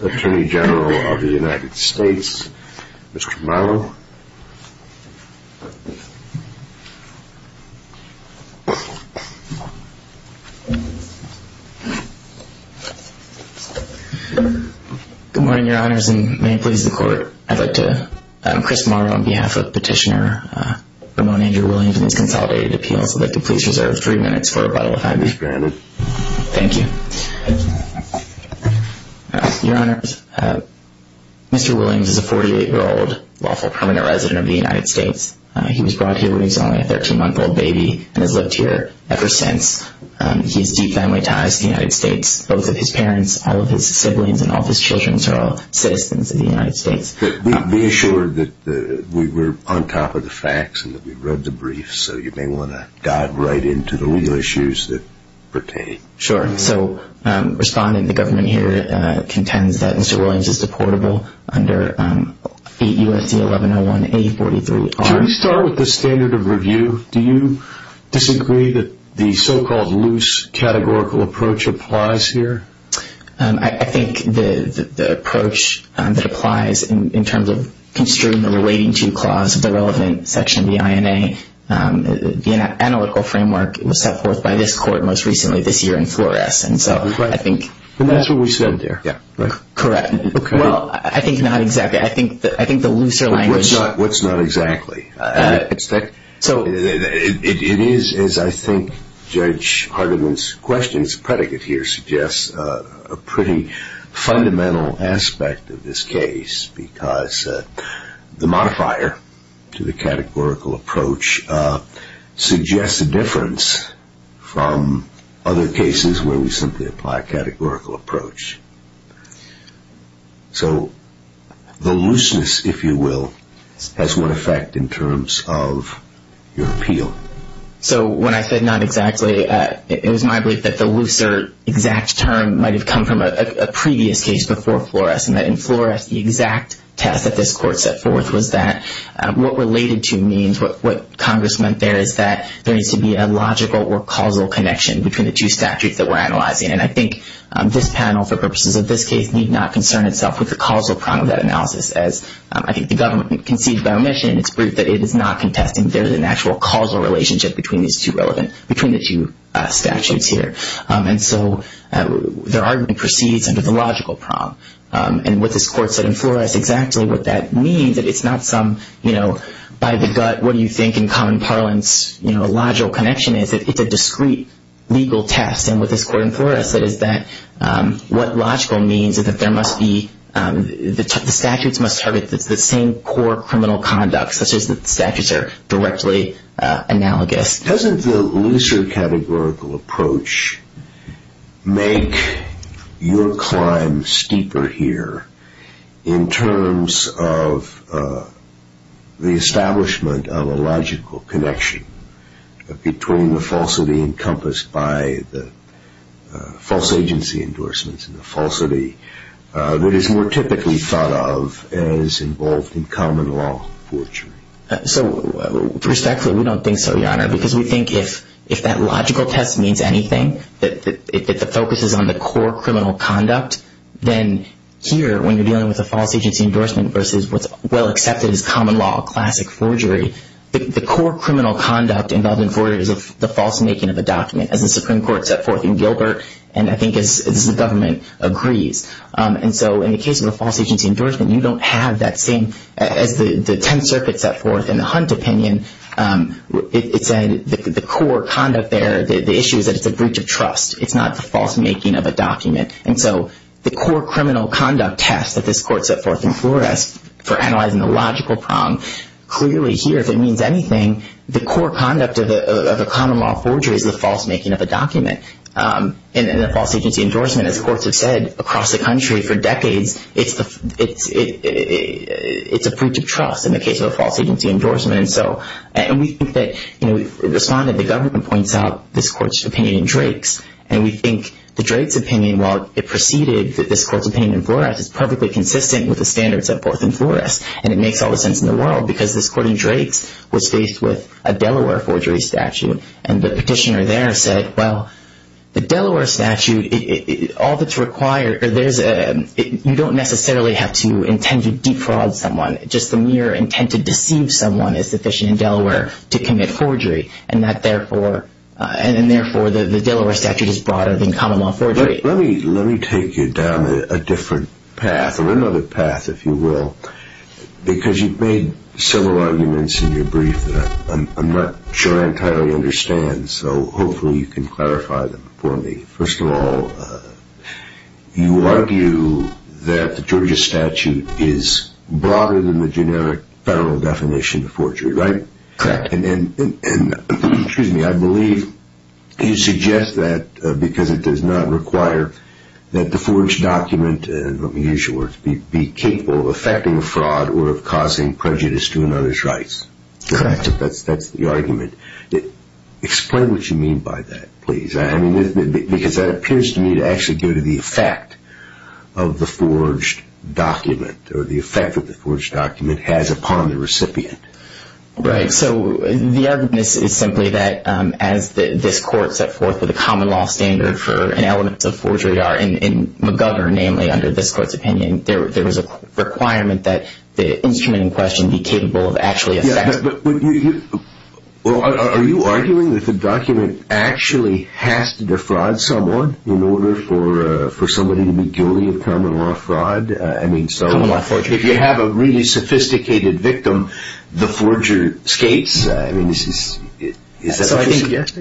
Attorney General of the United States, Mr. Morrow. Good morning, Your Honors, and may it please the Court, I'd like to, I'm Chris Morrow on behalf of Petitioner Ramon Andrew Williams in this Consolidated Appeal, so I'd like to please reserve three minutes for rebuttal if I may. As granted. Thank you. Your Honors, Mr. Williams is a 48-year-old lawful permanent resident of the United States. He was brought here when he was only a 13-month-old baby and has lived here ever since. He has deep family ties to the United States. Both of his parents, all of his siblings, and all of his children are all citizens of the United States. Be assured that we were on top of the facts and that we read the briefs, so you may want to dive right into the legal issues that pertain. Sure. So, responding, the government here contends that Mr. Williams is deportable under 8 U.S.C. 1101-A43-R. Should we start with the standard of review? Do you disagree that the so-called loose categorical approach applies here? I think the approach that applies in terms of construing the relating to clause of the relevant section of the INA, the analytical framework was set forth by this Court most recently this year in Flores, and so I think... And that's what we said there. Correct. Well, I think not exactly. I think the looser language... What's not exactly? So, it is, as I think Judge Hardeman's question's predicate here suggests, a pretty fundamental aspect of this case because the modifier to the categorical approach suggests a difference from other cases where we simply apply a categorical approach. So, the looseness, if you will, has what effect in terms of your appeal? So, when I said not exactly, it was my belief that the looser exact term might have come from a previous case before Flores, and that in Flores the exact test that this Court set forth was that what related to means, what Congress meant there is that there needs to be a logical or causal connection between the two statutes that we're analyzing, and I think this panel, for purposes of this case, need not concern itself with the causal prong of that analysis, as I think the government conceded by omission, and it's proved that it is not contesting there's an actual causal relationship between these two relevant... between the two statutes here. And so, their argument proceeds under the logical prong, and what this Court said in Flores, exactly what that means, that it's not some, you know, by the gut, what do you think in common parlance, you know, a logical connection is. It's a discrete legal test, and what this Court in Flores said is that what logical means is that there must be... the statutes must target the same core criminal conduct, such as the statutes are directly analogous. Doesn't the looser categorical approach make your climb steeper here in terms of the falsity encompassed by the false agency endorsements and the falsity that is more typically thought of as involved in common law forgery? So, respectfully, we don't think so, Your Honor, because we think if that logical test means anything, that the focus is on the core criminal conduct, then here, when you're dealing with a false agency endorsement versus what's well accepted as common law classic forgery, the core criminal conduct involved in forgery is the false making of a document, as the Supreme Court set forth in Gilbert, and I think as the government agrees. And so in the case of a false agency endorsement, you don't have that same... as the Tenth Circuit set forth in the Hunt opinion, it said the core conduct there, the issue is that it's a breach of trust. It's not the false making of a document. And so the core criminal conduct test that this Court set forth in Flores for analyzing the logical problem, clearly here, if it means anything, the core conduct of a common law forgery is the false making of a document. And in a false agency endorsement, as courts have said across the country for decades, it's a breach of trust in the case of a false agency endorsement. And so, and we think that, you know, we've responded, the government points out this Court's opinion in Drake's, and we think the Drake's opinion, while it preceded this in Flores, and it makes all the sense in the world, because this Court in Drake's was faced with a Delaware forgery statute, and the petitioner there said, well, the Delaware statute, all that's required, there's a... you don't necessarily have to intend to defraud someone. Just the mere intent to deceive someone is sufficient in Delaware to commit forgery, and that therefore, and therefore the Delaware statute is broader than common law forgery. Let me take you down a different path, or another path, if you will, because you've made several arguments in your brief that I'm not sure I entirely understand, so hopefully you can clarify them for me. First of all, you argue that the Georgia statute is broader than the generic federal definition of forgery, right? Correct. And, excuse me, I believe you suggest that because it does not require that the forged document, let me use your words, be capable of effecting a fraud or of causing prejudice to another's rights. Correct. That's the argument. Explain what you mean by that, please. I mean, because that appears to me to actually go to the effect of the forged document, or the effect that the forged document has upon the recipient. Right, so the argument is simply that as this court set forth with a common law standard for an element of forgery in McGovern, namely under this court's opinion, there was a requirement that the instrument in question be capable of actually effecting... Yeah, but are you arguing that the document actually has to defraud someone in order for somebody to be guilty of common law fraud? I mean, so... Common law forgery. If you have a really sophisticated victim, the forger skates? I mean, is that what you suggest?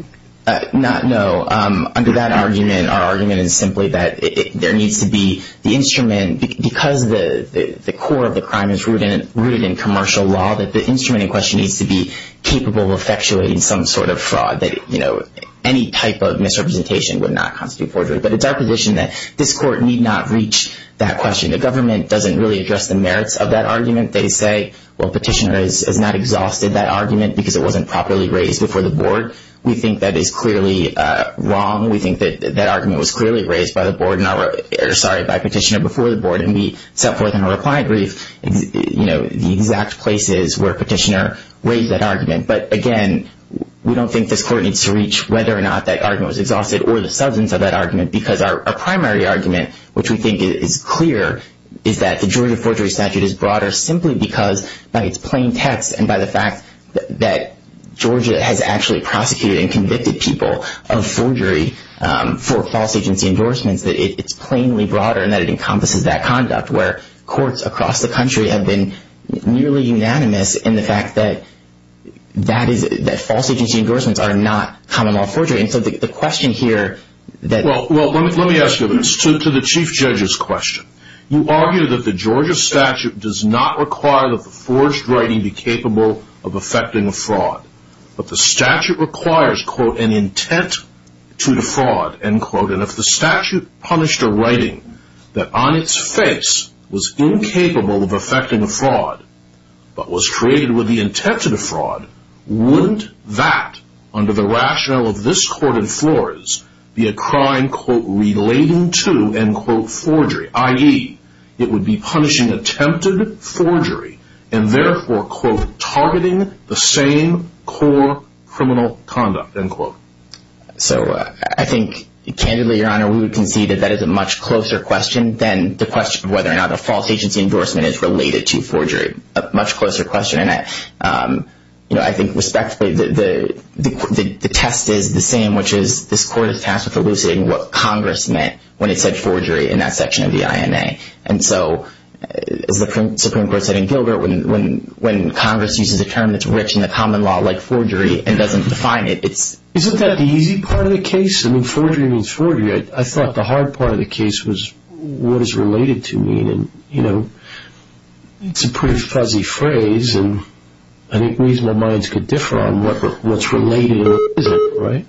No. Under that argument, our argument is simply that there needs to be the instrument, because the core of the crime is rooted in commercial law, that the instrument in question needs to be capable of effectuating some sort of fraud that, you know, any type of misrepresentation would not constitute forgery. But it's our position that this court need not reach that question. The government doesn't really address the merits of that argument. They say, well, Petitioner has not exhausted that argument because it wasn't properly raised before the board. We think that is clearly wrong. We think that that argument was clearly raised by the board... Sorry, by Petitioner before the board, and we set forth in a reply brief, you know, the exact places where Petitioner raised that argument. But again, we don't think this court needs to reach whether or not that argument was exhausted or the substance of that argument, because our primary argument, which we think is clear, is that the Georgia forgery statute is broader simply because by its plain text and by the fact that Georgia has actually prosecuted and convicted people of forgery for false agency endorsements, that it's plainly broader and that it encompasses that conduct where courts across the country have been nearly unanimous in the fact that false agency endorsements are not common law forgery. And so the question here that... Well, let me ask you this, to the chief judge's question. You argue that the Georgia statute does not require that the forged writing be capable of effecting a fraud. But the statute requires, quote, an intent to defraud, end quote. And if the statute punished a writing that on its face was incapable of effecting a fraud but was created with the intent to defraud, wouldn't that, under the rationale of this crime, quote, relating to, end quote, forgery, i.e., it would be punishing attempted forgery and therefore, quote, targeting the same core criminal conduct, end quote. So I think, candidly, Your Honor, we would concede that that is a much closer question than the question of whether or not a false agency endorsement is related to forgery, a much closer question. And I think, respectfully, the test is the same, which is this court is tasked with elucidating what Congress meant when it said forgery in that section of the INA. And so, as the Supreme Court said in Gilbert, when Congress uses a term that's rich in the common law like forgery and doesn't define it, it's... Isn't that the easy part of the case? I mean, forgery means forgery. I thought the hard part of the case was what is related to me. And, you know, it's a pretty fuzzy phrase, and I think reasonable minds could differ on what's related and what isn't, right?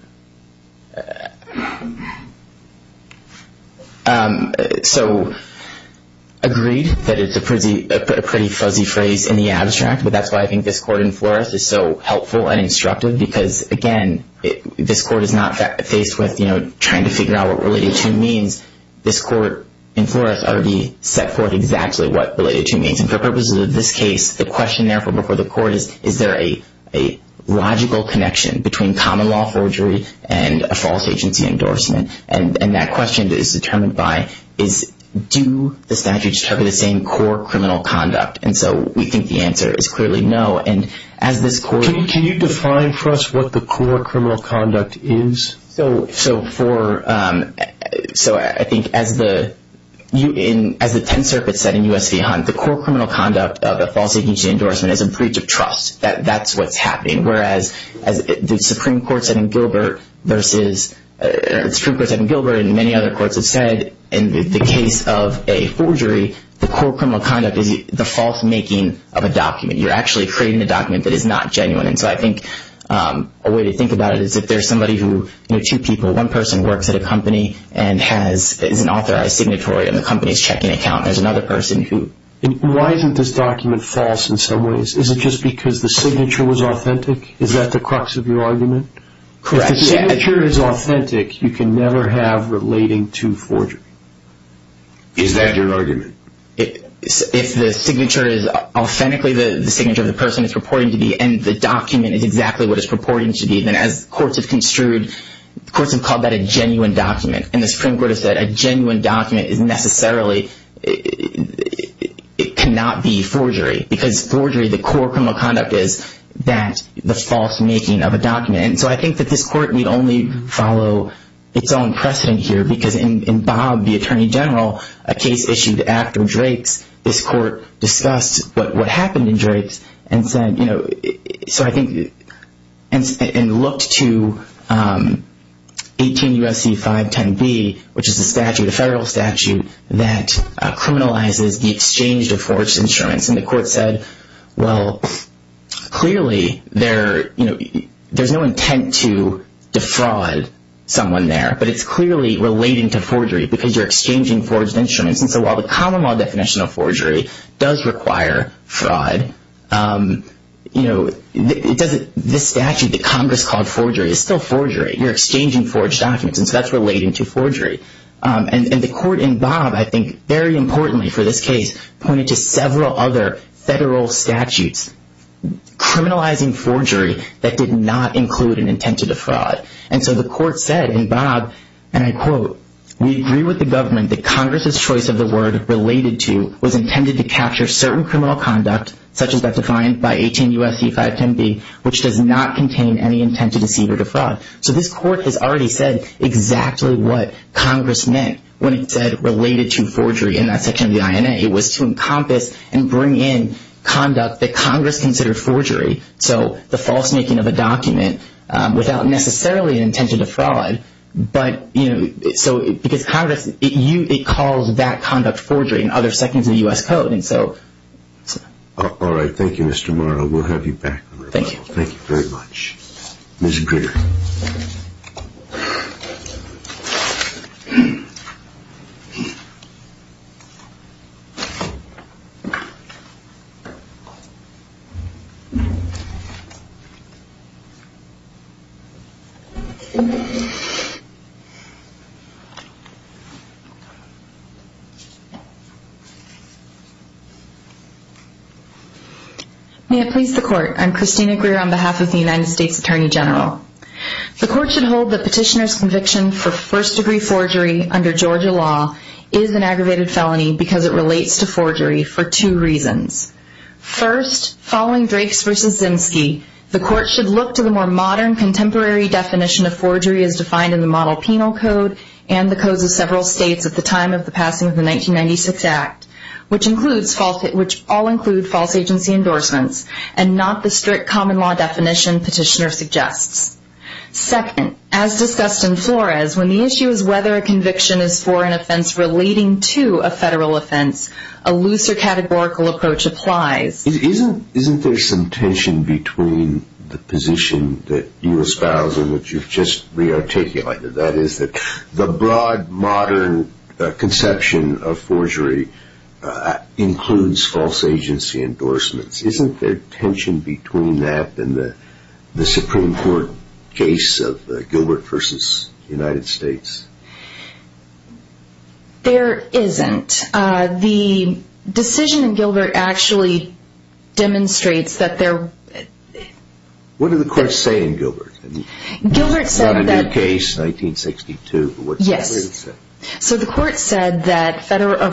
So, agreed that it's a pretty fuzzy phrase in the abstract, but that's why I think this court in Flores is so helpful and instructive because, again, this court is not faced with, you know, trying to figure out what related to means. This court in Flores already set forth exactly what related to means. And for purposes of this case, the question therefore before the court is, is there a logical connection between common law forgery and a false agency endorsement? And that question is determined by is do the statutes cover the same core criminal conduct? And so we think the answer is clearly no. And as this court... Can you define for us what the core criminal conduct is? So for... So I think as the 10th Circuit said in U.S. v. Hunt, the core criminal conduct of a false agency endorsement is a breach of trust. That's what's happening. Whereas the Supreme Court said in Gilbert versus... The Supreme Court said in Gilbert and many other courts have said in the case of a forgery, the core criminal conduct is the false making of a document. You're actually creating a document that is not genuine. And so I think a way to think about it is if there's somebody who, you know, two people, one person works at a company and has an authorized signatory on the company's checking account and there's another person who... And why isn't this document false in some ways? Is it just because the signature was authentic? Is that the crux of your argument? Correct. If the signature is authentic, you can never have relating to forgery. Is that your argument? If the signature is authentically the signature of the person it's purporting to be and the document is exactly what it's purporting to be, then as courts have construed, courts have called that a genuine document. And the Supreme Court has said a genuine document is necessarily... It cannot be forgery because forgery, the core criminal conduct is that, the false making of a document. And so I think that this court need only follow its own precedent here because in Bob, the Attorney General, a case issued after Drake's, this court discussed what happened in Drake's and said, you know... So I think... And looked to 18 U.S.C. 510B, which is a statute, a federal statute, that criminalizes the exchange of forged insurance. And the court said, well, clearly there's no intent to defraud someone there, but it's clearly relating to forgery because you're exchanging forged instruments. And so while the common law definition of forgery does require fraud, this statute that Congress called forgery is still forgery. You're exchanging forged documents, and so that's relating to forgery. And the court in Bob, I think, very importantly for this case, pointed to several other federal statutes criminalizing forgery that did not include an intent to defraud. And so the court said in Bob, and I quote, we agree with the government that Congress's choice of the word related to was intended to capture certain criminal conduct, such as that defined by 18 U.S.C. 510B, which does not contain any intent to deceive or defraud. So this court has already said exactly what Congress meant when it said related to forgery in that section of the INA. It was to encompass and bring in conduct that Congress considered forgery, so the false making of a document without necessarily an intention to fraud. But, you know, so because Congress, it calls that conduct forgery in other sections of the U.S. Code. And so... All right. Thank you, Mr. Morrow. We'll have you back on the rebuttal. Thank you. Thank you very much. Ms. Greer. May it please the court. I'm Christina Greer on behalf of the United States Attorney General. The court should hold the petitioner's conviction for first degree forgery under Georgia law is an aggravated felony because it relates to forgery for two reasons. First, following Drakes v. Zimsky, the court should look to the more modern contemporary definition of forgery as defined in the model penal code and the codes of several states at the time of the passing of the 1996 Act, which all include false agency endorsements and not the strict common law definition petitioner suggests. Second, as discussed in Flores, when the issue is whether a conviction is for an offense relating to a federal offense, a looser categorical approach applies. Isn't there some tension between the position that you espoused and which you've just re-articulated, that is that the broad modern conception of forgery includes false agency endorsements? Isn't there tension between that and the Supreme Court case of Gilbert v. United States? There isn't. The decision in Gilbert actually demonstrates that there... What did the court say in Gilbert? Gilbert said that... It's not a new case, 1962, but what did Gilbert say? Yes. So the court said that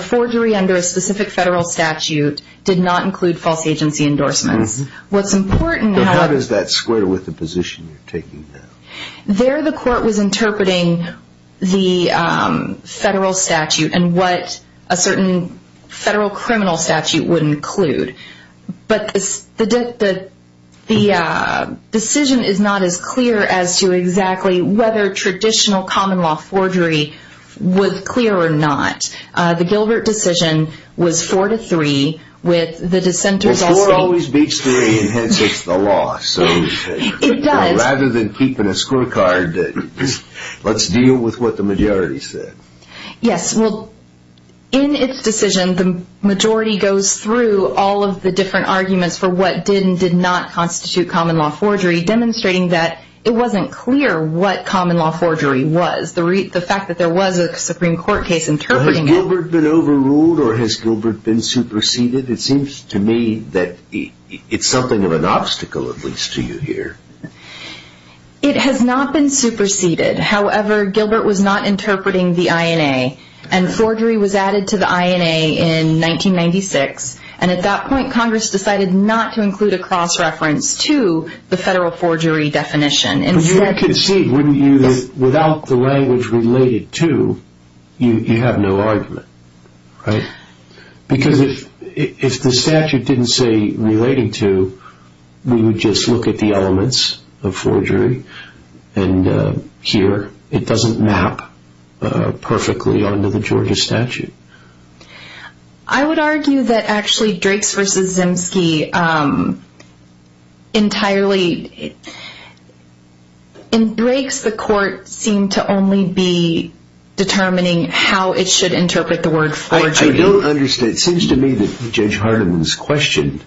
forgery under a specific federal statute did not include false agency endorsements. What's important... But how does that square with the position you're taking now? There the court was interpreting the federal statute and what a certain federal criminal statute would include. But the decision is not as clear as to exactly whether traditional common law forgery was clear or not. The Gilbert decision was 4-3 with the dissenters also... Well, 4 always beats 3 and hence it's the law. It does. So rather than keeping a scorecard, let's deal with what the majority said. Yes. Well, in its decision, the majority goes through all of the different arguments for what did and did not constitute common law forgery, demonstrating that it wasn't clear what common law forgery was. The fact that there was a Supreme Court case interpreting it... Has Gilbert been overruled or has Gilbert been superseded? It seems to me that it's something of an obstacle at least to you here. It has not been superseded. However, Gilbert was not interpreting the INA and forgery was added to the INA in 1996 and at that point Congress decided not to include a cross-reference to the federal forgery definition. But you can see without the language related to, you have no argument, right? Because if the statute didn't say related to, we would just look at the elements of forgery and here it doesn't map perfectly onto the Georgia statute. I would argue that actually Drakes v. Zemski entirely... In Drakes the court seemed to only be determining how it should interpret the word forgery. I don't understand. It seems to me that Judge Hardeman's question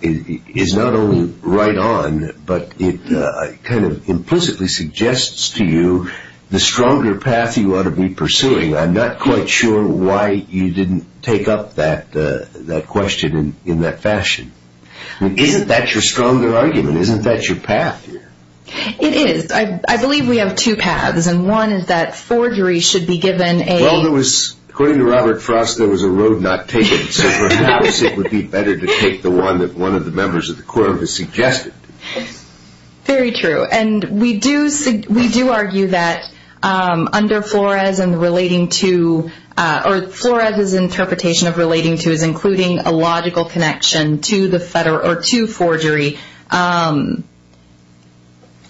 is not only right on but it kind of implicitly suggests to you the stronger path you ought to be pursuing. I'm not quite sure why you didn't take up that question in that fashion. Isn't that your stronger argument? Isn't that your path here? It is. I believe we have two paths and one is that forgery should be given a... Well, according to Robert Frost there was a road not taken so perhaps it would be better to take the one that one of the members of the court has suggested. Very true. We do argue that under Flores and relating to... Flores' interpretation of relating to is including a logical connection to forgery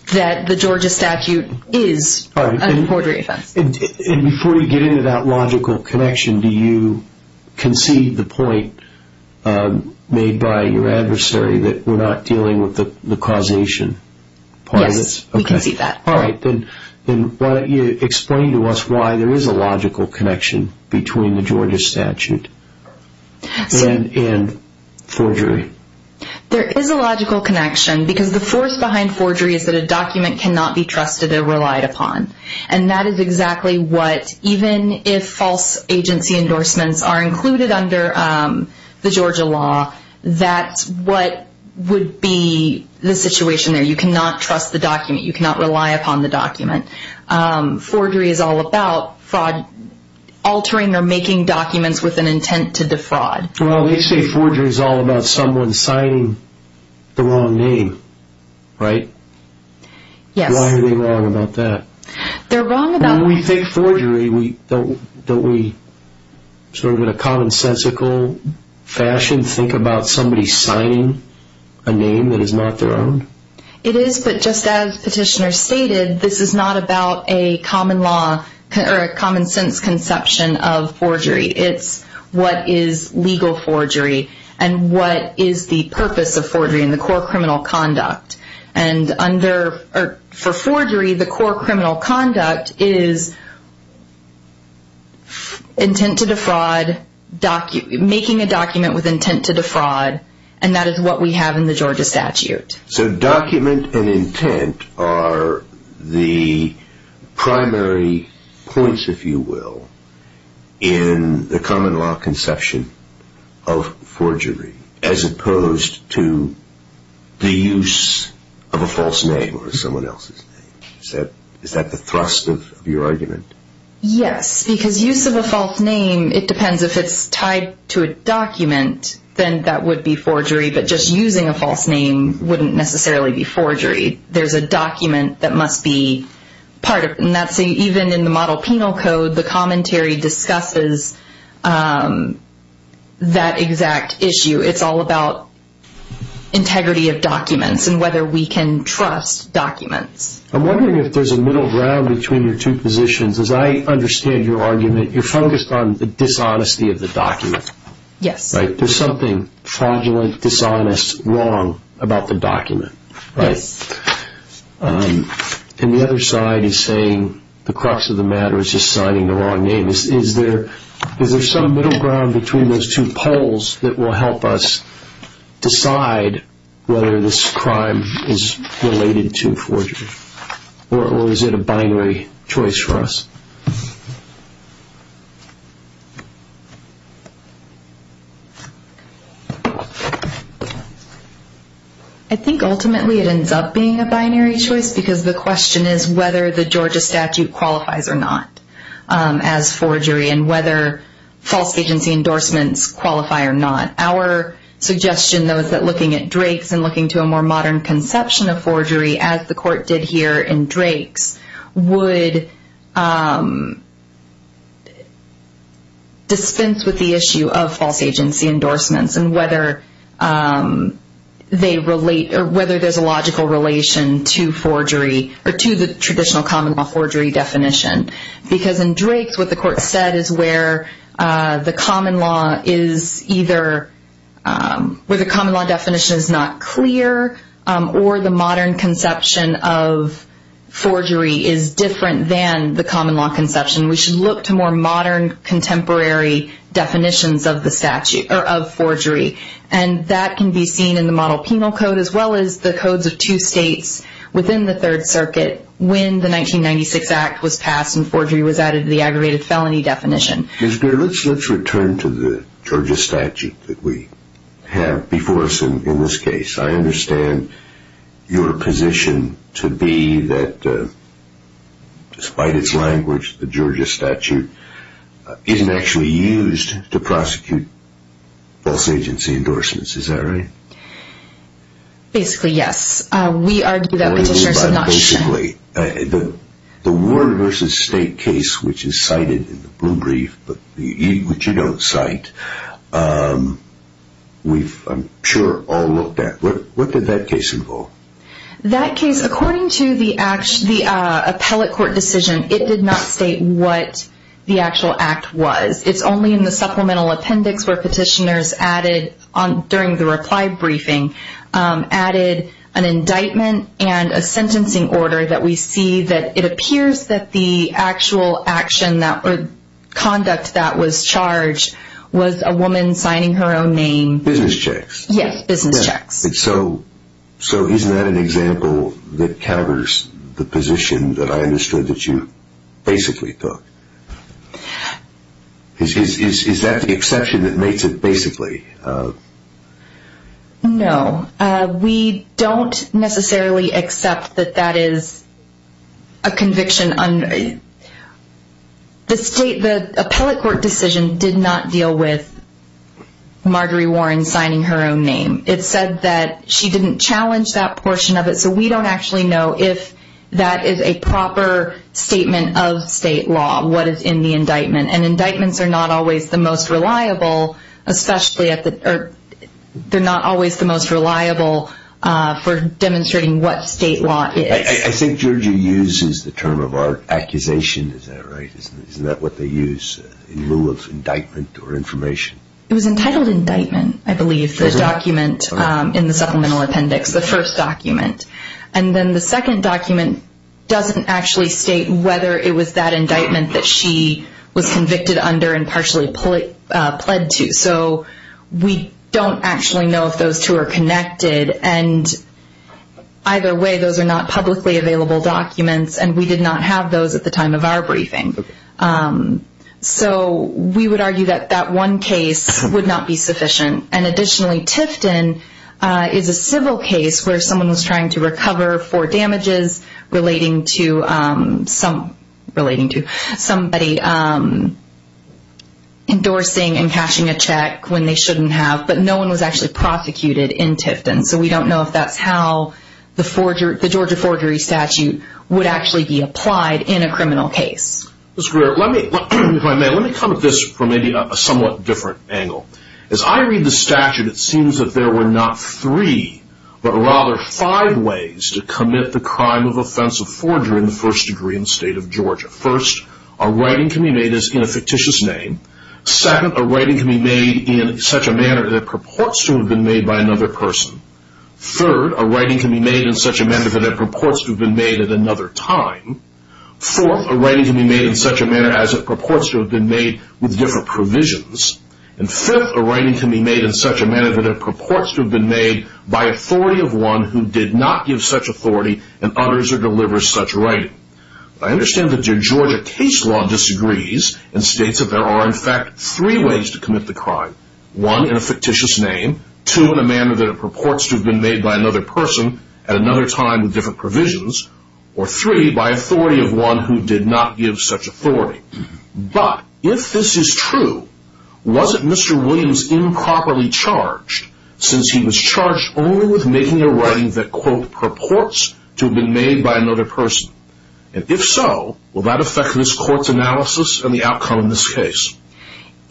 that the Georgia statute is a forgery offense. Before you get into that logical connection, do you concede the point made by your adversary that we're not dealing with the causation part of this? Yes, we concede that. All right, then why don't you explain to us why there is a logical connection between the Georgia statute and forgery. There is a logical connection because the force behind forgery is that a document cannot be trusted or relied upon and that is exactly what, even if false agency endorsements are included under the Georgia law, that's what would be the situation there. You cannot trust the document. You cannot rely upon the document. Forgery is all about fraud, altering or making documents with an intent to defraud. Well, they say forgery is all about someone signing the wrong name, right? Yes. Why are they wrong about that? They're wrong about... When we think forgery, don't we sort of in a commonsensical fashion think about somebody signing a name that is not their own? It is, but just as Petitioner stated, this is not about a common law or a common sense conception of forgery. It's what is legal forgery and what is the purpose of forgery and the core criminal conduct. For forgery, the core criminal conduct is intent to defraud, making a document with intent to defraud, and that is what we have in the Georgia statute. So document and intent are the primary points, if you will, in the common law conception of forgery as opposed to the use of a false name or someone else's name. Is that the thrust of your argument? Yes, because use of a false name, it depends. If it's tied to a document, then that would be forgery, but just using a false name wouldn't necessarily be forgery. There's a document that must be part of it, and even in the Model Penal Code, the commentary discusses that exact issue. It's all about integrity of documents and whether we can trust documents. I'm wondering if there's a middle ground between your two positions. As I understand your argument, you're focused on the dishonesty of the document. Yes. There's something fraudulent, dishonest, wrong about the document. Yes. And the other side is saying the crux of the matter is just signing the wrong name. Is there some middle ground between those two poles that will help us decide whether this crime is related to forgery, or is it a binary choice for us? I think ultimately it ends up being a binary choice, because the question is whether the Georgia statute qualifies or not as forgery, and whether false agency endorsements qualify or not. Our suggestion, though, is that looking at Drake's and looking to a more modern conception of forgery, as the court did here in Drake's, would dispense with the issue of false agency endorsements and whether there's a logical relation to forgery, or to the traditional common law forgery definition. Because in Drake's, what the court said is where the common law definition is not clear, or the modern conception of forgery is different than the common law conception. We should look to more modern, contemporary definitions of the statute, or of forgery. And that can be seen in the model penal code, as well as the codes of two states within the Third Circuit when the 1996 Act was passed and forgery was added to the aggravated felony definition. Ms. Greer, let's return to the Georgia statute that we have before us in this case. I understand your position to be that, despite its language, the Georgia statute isn't actually used to prosecute false agency endorsements. Is that right? Basically, yes. We argue that petitioners are not sure. Basically, the Ward v. State case, which is cited in the blue brief, which you don't cite, we've, I'm sure, all looked at. What did that case involve? That case, according to the appellate court decision, it did not state what the actual act was. It's only in the supplemental appendix where petitioners added, during the reply briefing, added an indictment and a sentencing order that we see that it appears that the actual action or conduct that was charged was a woman signing her own name. Business checks. Yes, business checks. So isn't that an example that counters the position that I understood that you basically took? Is that the exception that makes it basically? No. We don't necessarily accept that that is a conviction. The state, the appellate court decision did not deal with Marjorie Warren signing her own name. It said that she didn't challenge that portion of it, so we don't actually know if that is a proper statement of state law, what is in the indictment. And indictments are not always the most reliable, especially at the, they're not always the most reliable for demonstrating what state law is. I think Georgia uses the term of our accusation, is that right? Isn't that what they use in lieu of indictment or information? It was entitled indictment, I believe, the document in the supplemental appendix, the first document. And then the second document doesn't actually state whether it was that indictment that she was convicted under and partially pled to. So we don't actually know if those two are connected. And either way, those are not publicly available documents, and we did not have those at the time of our briefing. So we would argue that that one case would not be sufficient. And additionally, Tifton is a civil case where someone was trying to recover for damages relating to somebody endorsing and cashing a check when they shouldn't have, but no one was actually prosecuted in Tifton. So we don't know if that's how the Georgia forgery statute would actually be applied in a criminal case. Ms. Greer, if I may, let me come at this from maybe a somewhat different angle. As I read the statute, it seems that there were not three, but rather five ways to commit the crime of offensive forgery in the first degree in the state of Georgia. First, a writing can be made in a fictitious name. Second, a writing can be made in such a manner that it purports to have been made by another person. Third, a writing can be made in such a manner that it purports to have been made at another time. Fourth, a writing can be made in such a manner as it purports to have been made with different provisions. And fifth, a writing can be made in such a manner that it purports to have been made by authority of one who did not give such authority and utters or delivers such writing. I understand that your Georgia case law disagrees and states that there are in fact three ways to commit the crime. One, in a fictitious name. Two, in a manner that it purports to have been made by another person at another time with different provisions. Or three, by authority of one who did not give such authority. But if this is true, wasn't Mr. Williams improperly charged since he was charged only with making a writing that purports to have been made by another person? And if so, will that affect this court's analysis and the outcome of this case?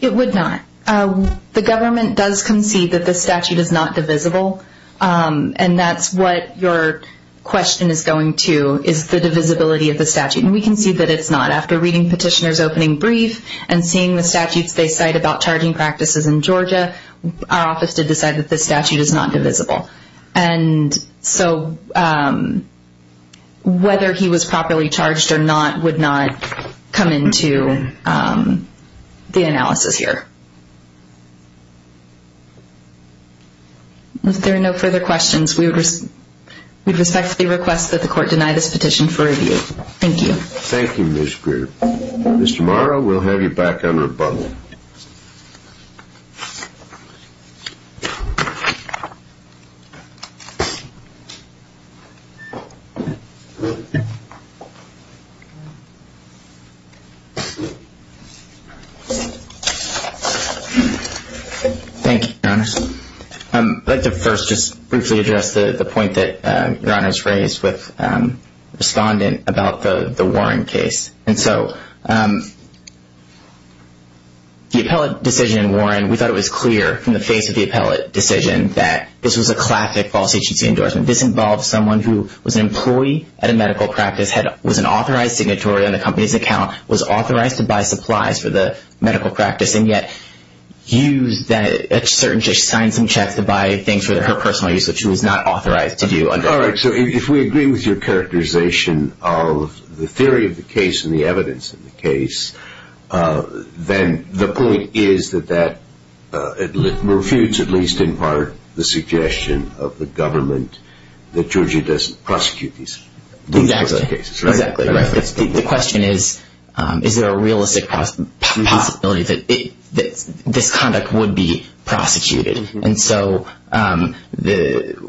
It would not. The government does concede that this statute is not divisible. And that's what your question is going to, is the divisibility of the statute. And we concede that it's not. After reading petitioner's opening brief and seeing the statutes they cite about charging practices in Georgia, our office did decide that this statute is not divisible. And so whether he was properly charged or not would not come into the analysis here. If there are no further questions, we respectfully request that the court deny this petition for review. Thank you. Thank you, Ms. Greer. Mr. Morrow, we'll have you back under a bundle. Thank you, Your Honor. I'd like to first just briefly address the point that Your Honor has raised with the respondent about the Warren case. And so the appellate decision in Warren, we thought it was clear from the face of the appellate decision that this was a classic false agency endorsement. This involved someone who was an employee at a medical practice, was an authorized signatory on the company's account, was authorized to buy supplies for the medical practice, and yet used that certainty to sign some checks to buy things for her personal use, which she was not authorized to do. All right. So if we agree with your characterization of the theory of the case and the evidence in the case, then the point is that that refutes at least in part the suggestion of the government that Georgia doesn't prosecute these cases. Exactly. The question is, is there a realistic possibility that this conduct would be prosecuted? And so the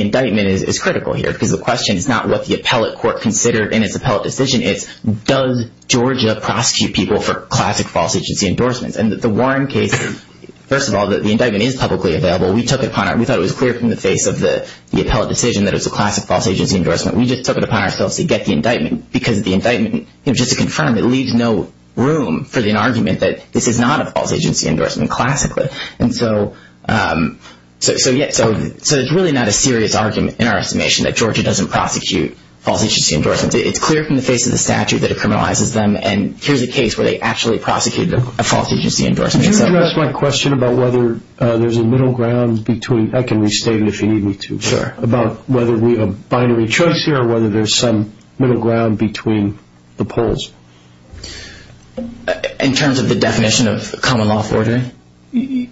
indictment is critical here because the question is not what the appellate court considered in its appellate decision, it's does Georgia prosecute people for classic false agency endorsements? And the Warren case, first of all, the indictment is publicly available. We thought it was clear from the face of the appellate decision that it was a classic false agency endorsement. We just took it upon ourselves to get the indictment because the indictment, just to confirm, it leaves no room for the argument that this is not a false agency endorsement classically. And so it's really not a serious argument in our estimation that Georgia doesn't prosecute false agency endorsements. It's clear from the face of the statute that it criminalizes them, and here's a case where they actually prosecuted a false agency endorsement. Could you address my question about whether there's a middle ground between – I can restate it if you need me to. Sure. About whether we have a binary choice here or whether there's some middle ground between the polls. In terms of the definition of common law forgery? In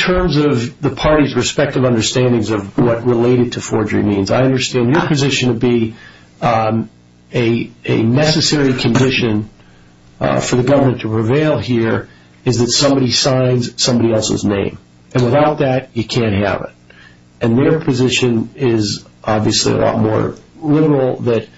terms of the party's respective understandings of what related to forgery means, I understand your position would be a necessary condition for the government to prevail here is that somebody signs somebody else's name. And without that, you can't have it. And their position is obviously a lot more literal that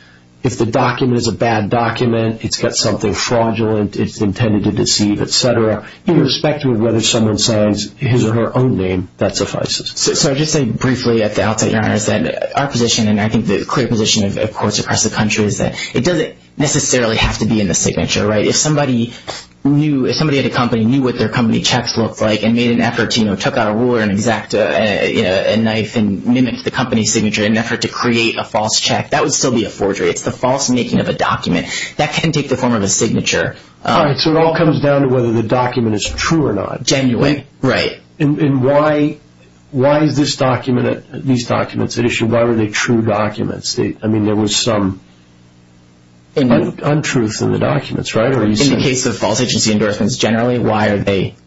if the document is a bad document, it's got something fraudulent, it's intended to deceive, et cetera, irrespective of whether someone signs his or her own name, that suffices. So I would just say briefly at the outset, Your Honor, is that our position and I think the clear position of courts across the country is that it doesn't necessarily have to be in the signature, right? If somebody knew – if somebody at a company knew what their company checks looked like and made an effort to, you know, took out a ruler and exact a knife and mimicked the company's signature in an effort to create a false check, that would still be a forgery. It's the false making of a document. That can take the form of a signature. All right. So it all comes down to whether the document is true or not. Genuine. Right. And why is this document – these documents at issue, why were they true documents? I mean, there was some untruth in the documents, right? In the case of false agency endorsements generally, why are they –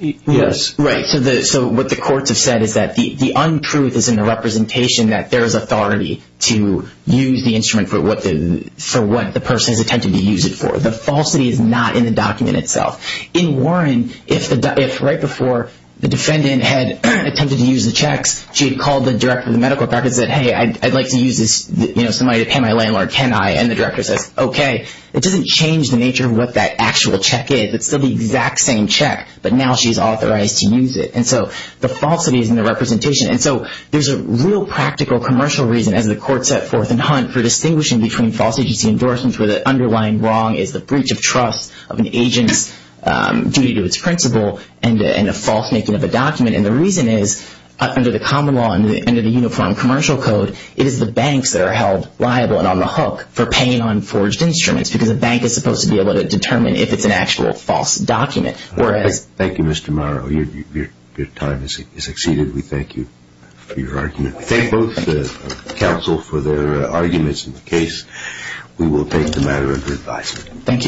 Yes. Right. So what the courts have said is that the untruth is in the representation that there is authority to use the instrument for what the person has attempted to use it for. The falsity is not in the document itself. In Warren, if right before the defendant had attempted to use the checks, she had called the director of the medical practice and said, hey, I'd like to use this, you know, somebody to pay my landlord, can I? And the director says, okay. It doesn't change the nature of what that actual check is. It's still the exact same check, but now she's authorized to use it. And so the falsity is in the representation. And so there's a real practical commercial reason, as the court set forth in Hunt, for distinguishing between false agency endorsements where the underlying wrong is the breach of trust of an agent's duty to its principle and a false making of a document. And the reason is, under the common law and under the uniform commercial code, it is the banks that are held liable and on the hook for paying on forged instruments because a bank is supposed to be able to determine if it's an actual false document. Thank you, Mr. Morrow. Your time has exceeded. We thank you for your argument. We thank both the counsel for their arguments in the case. We will take the matter under advisement. Thank you.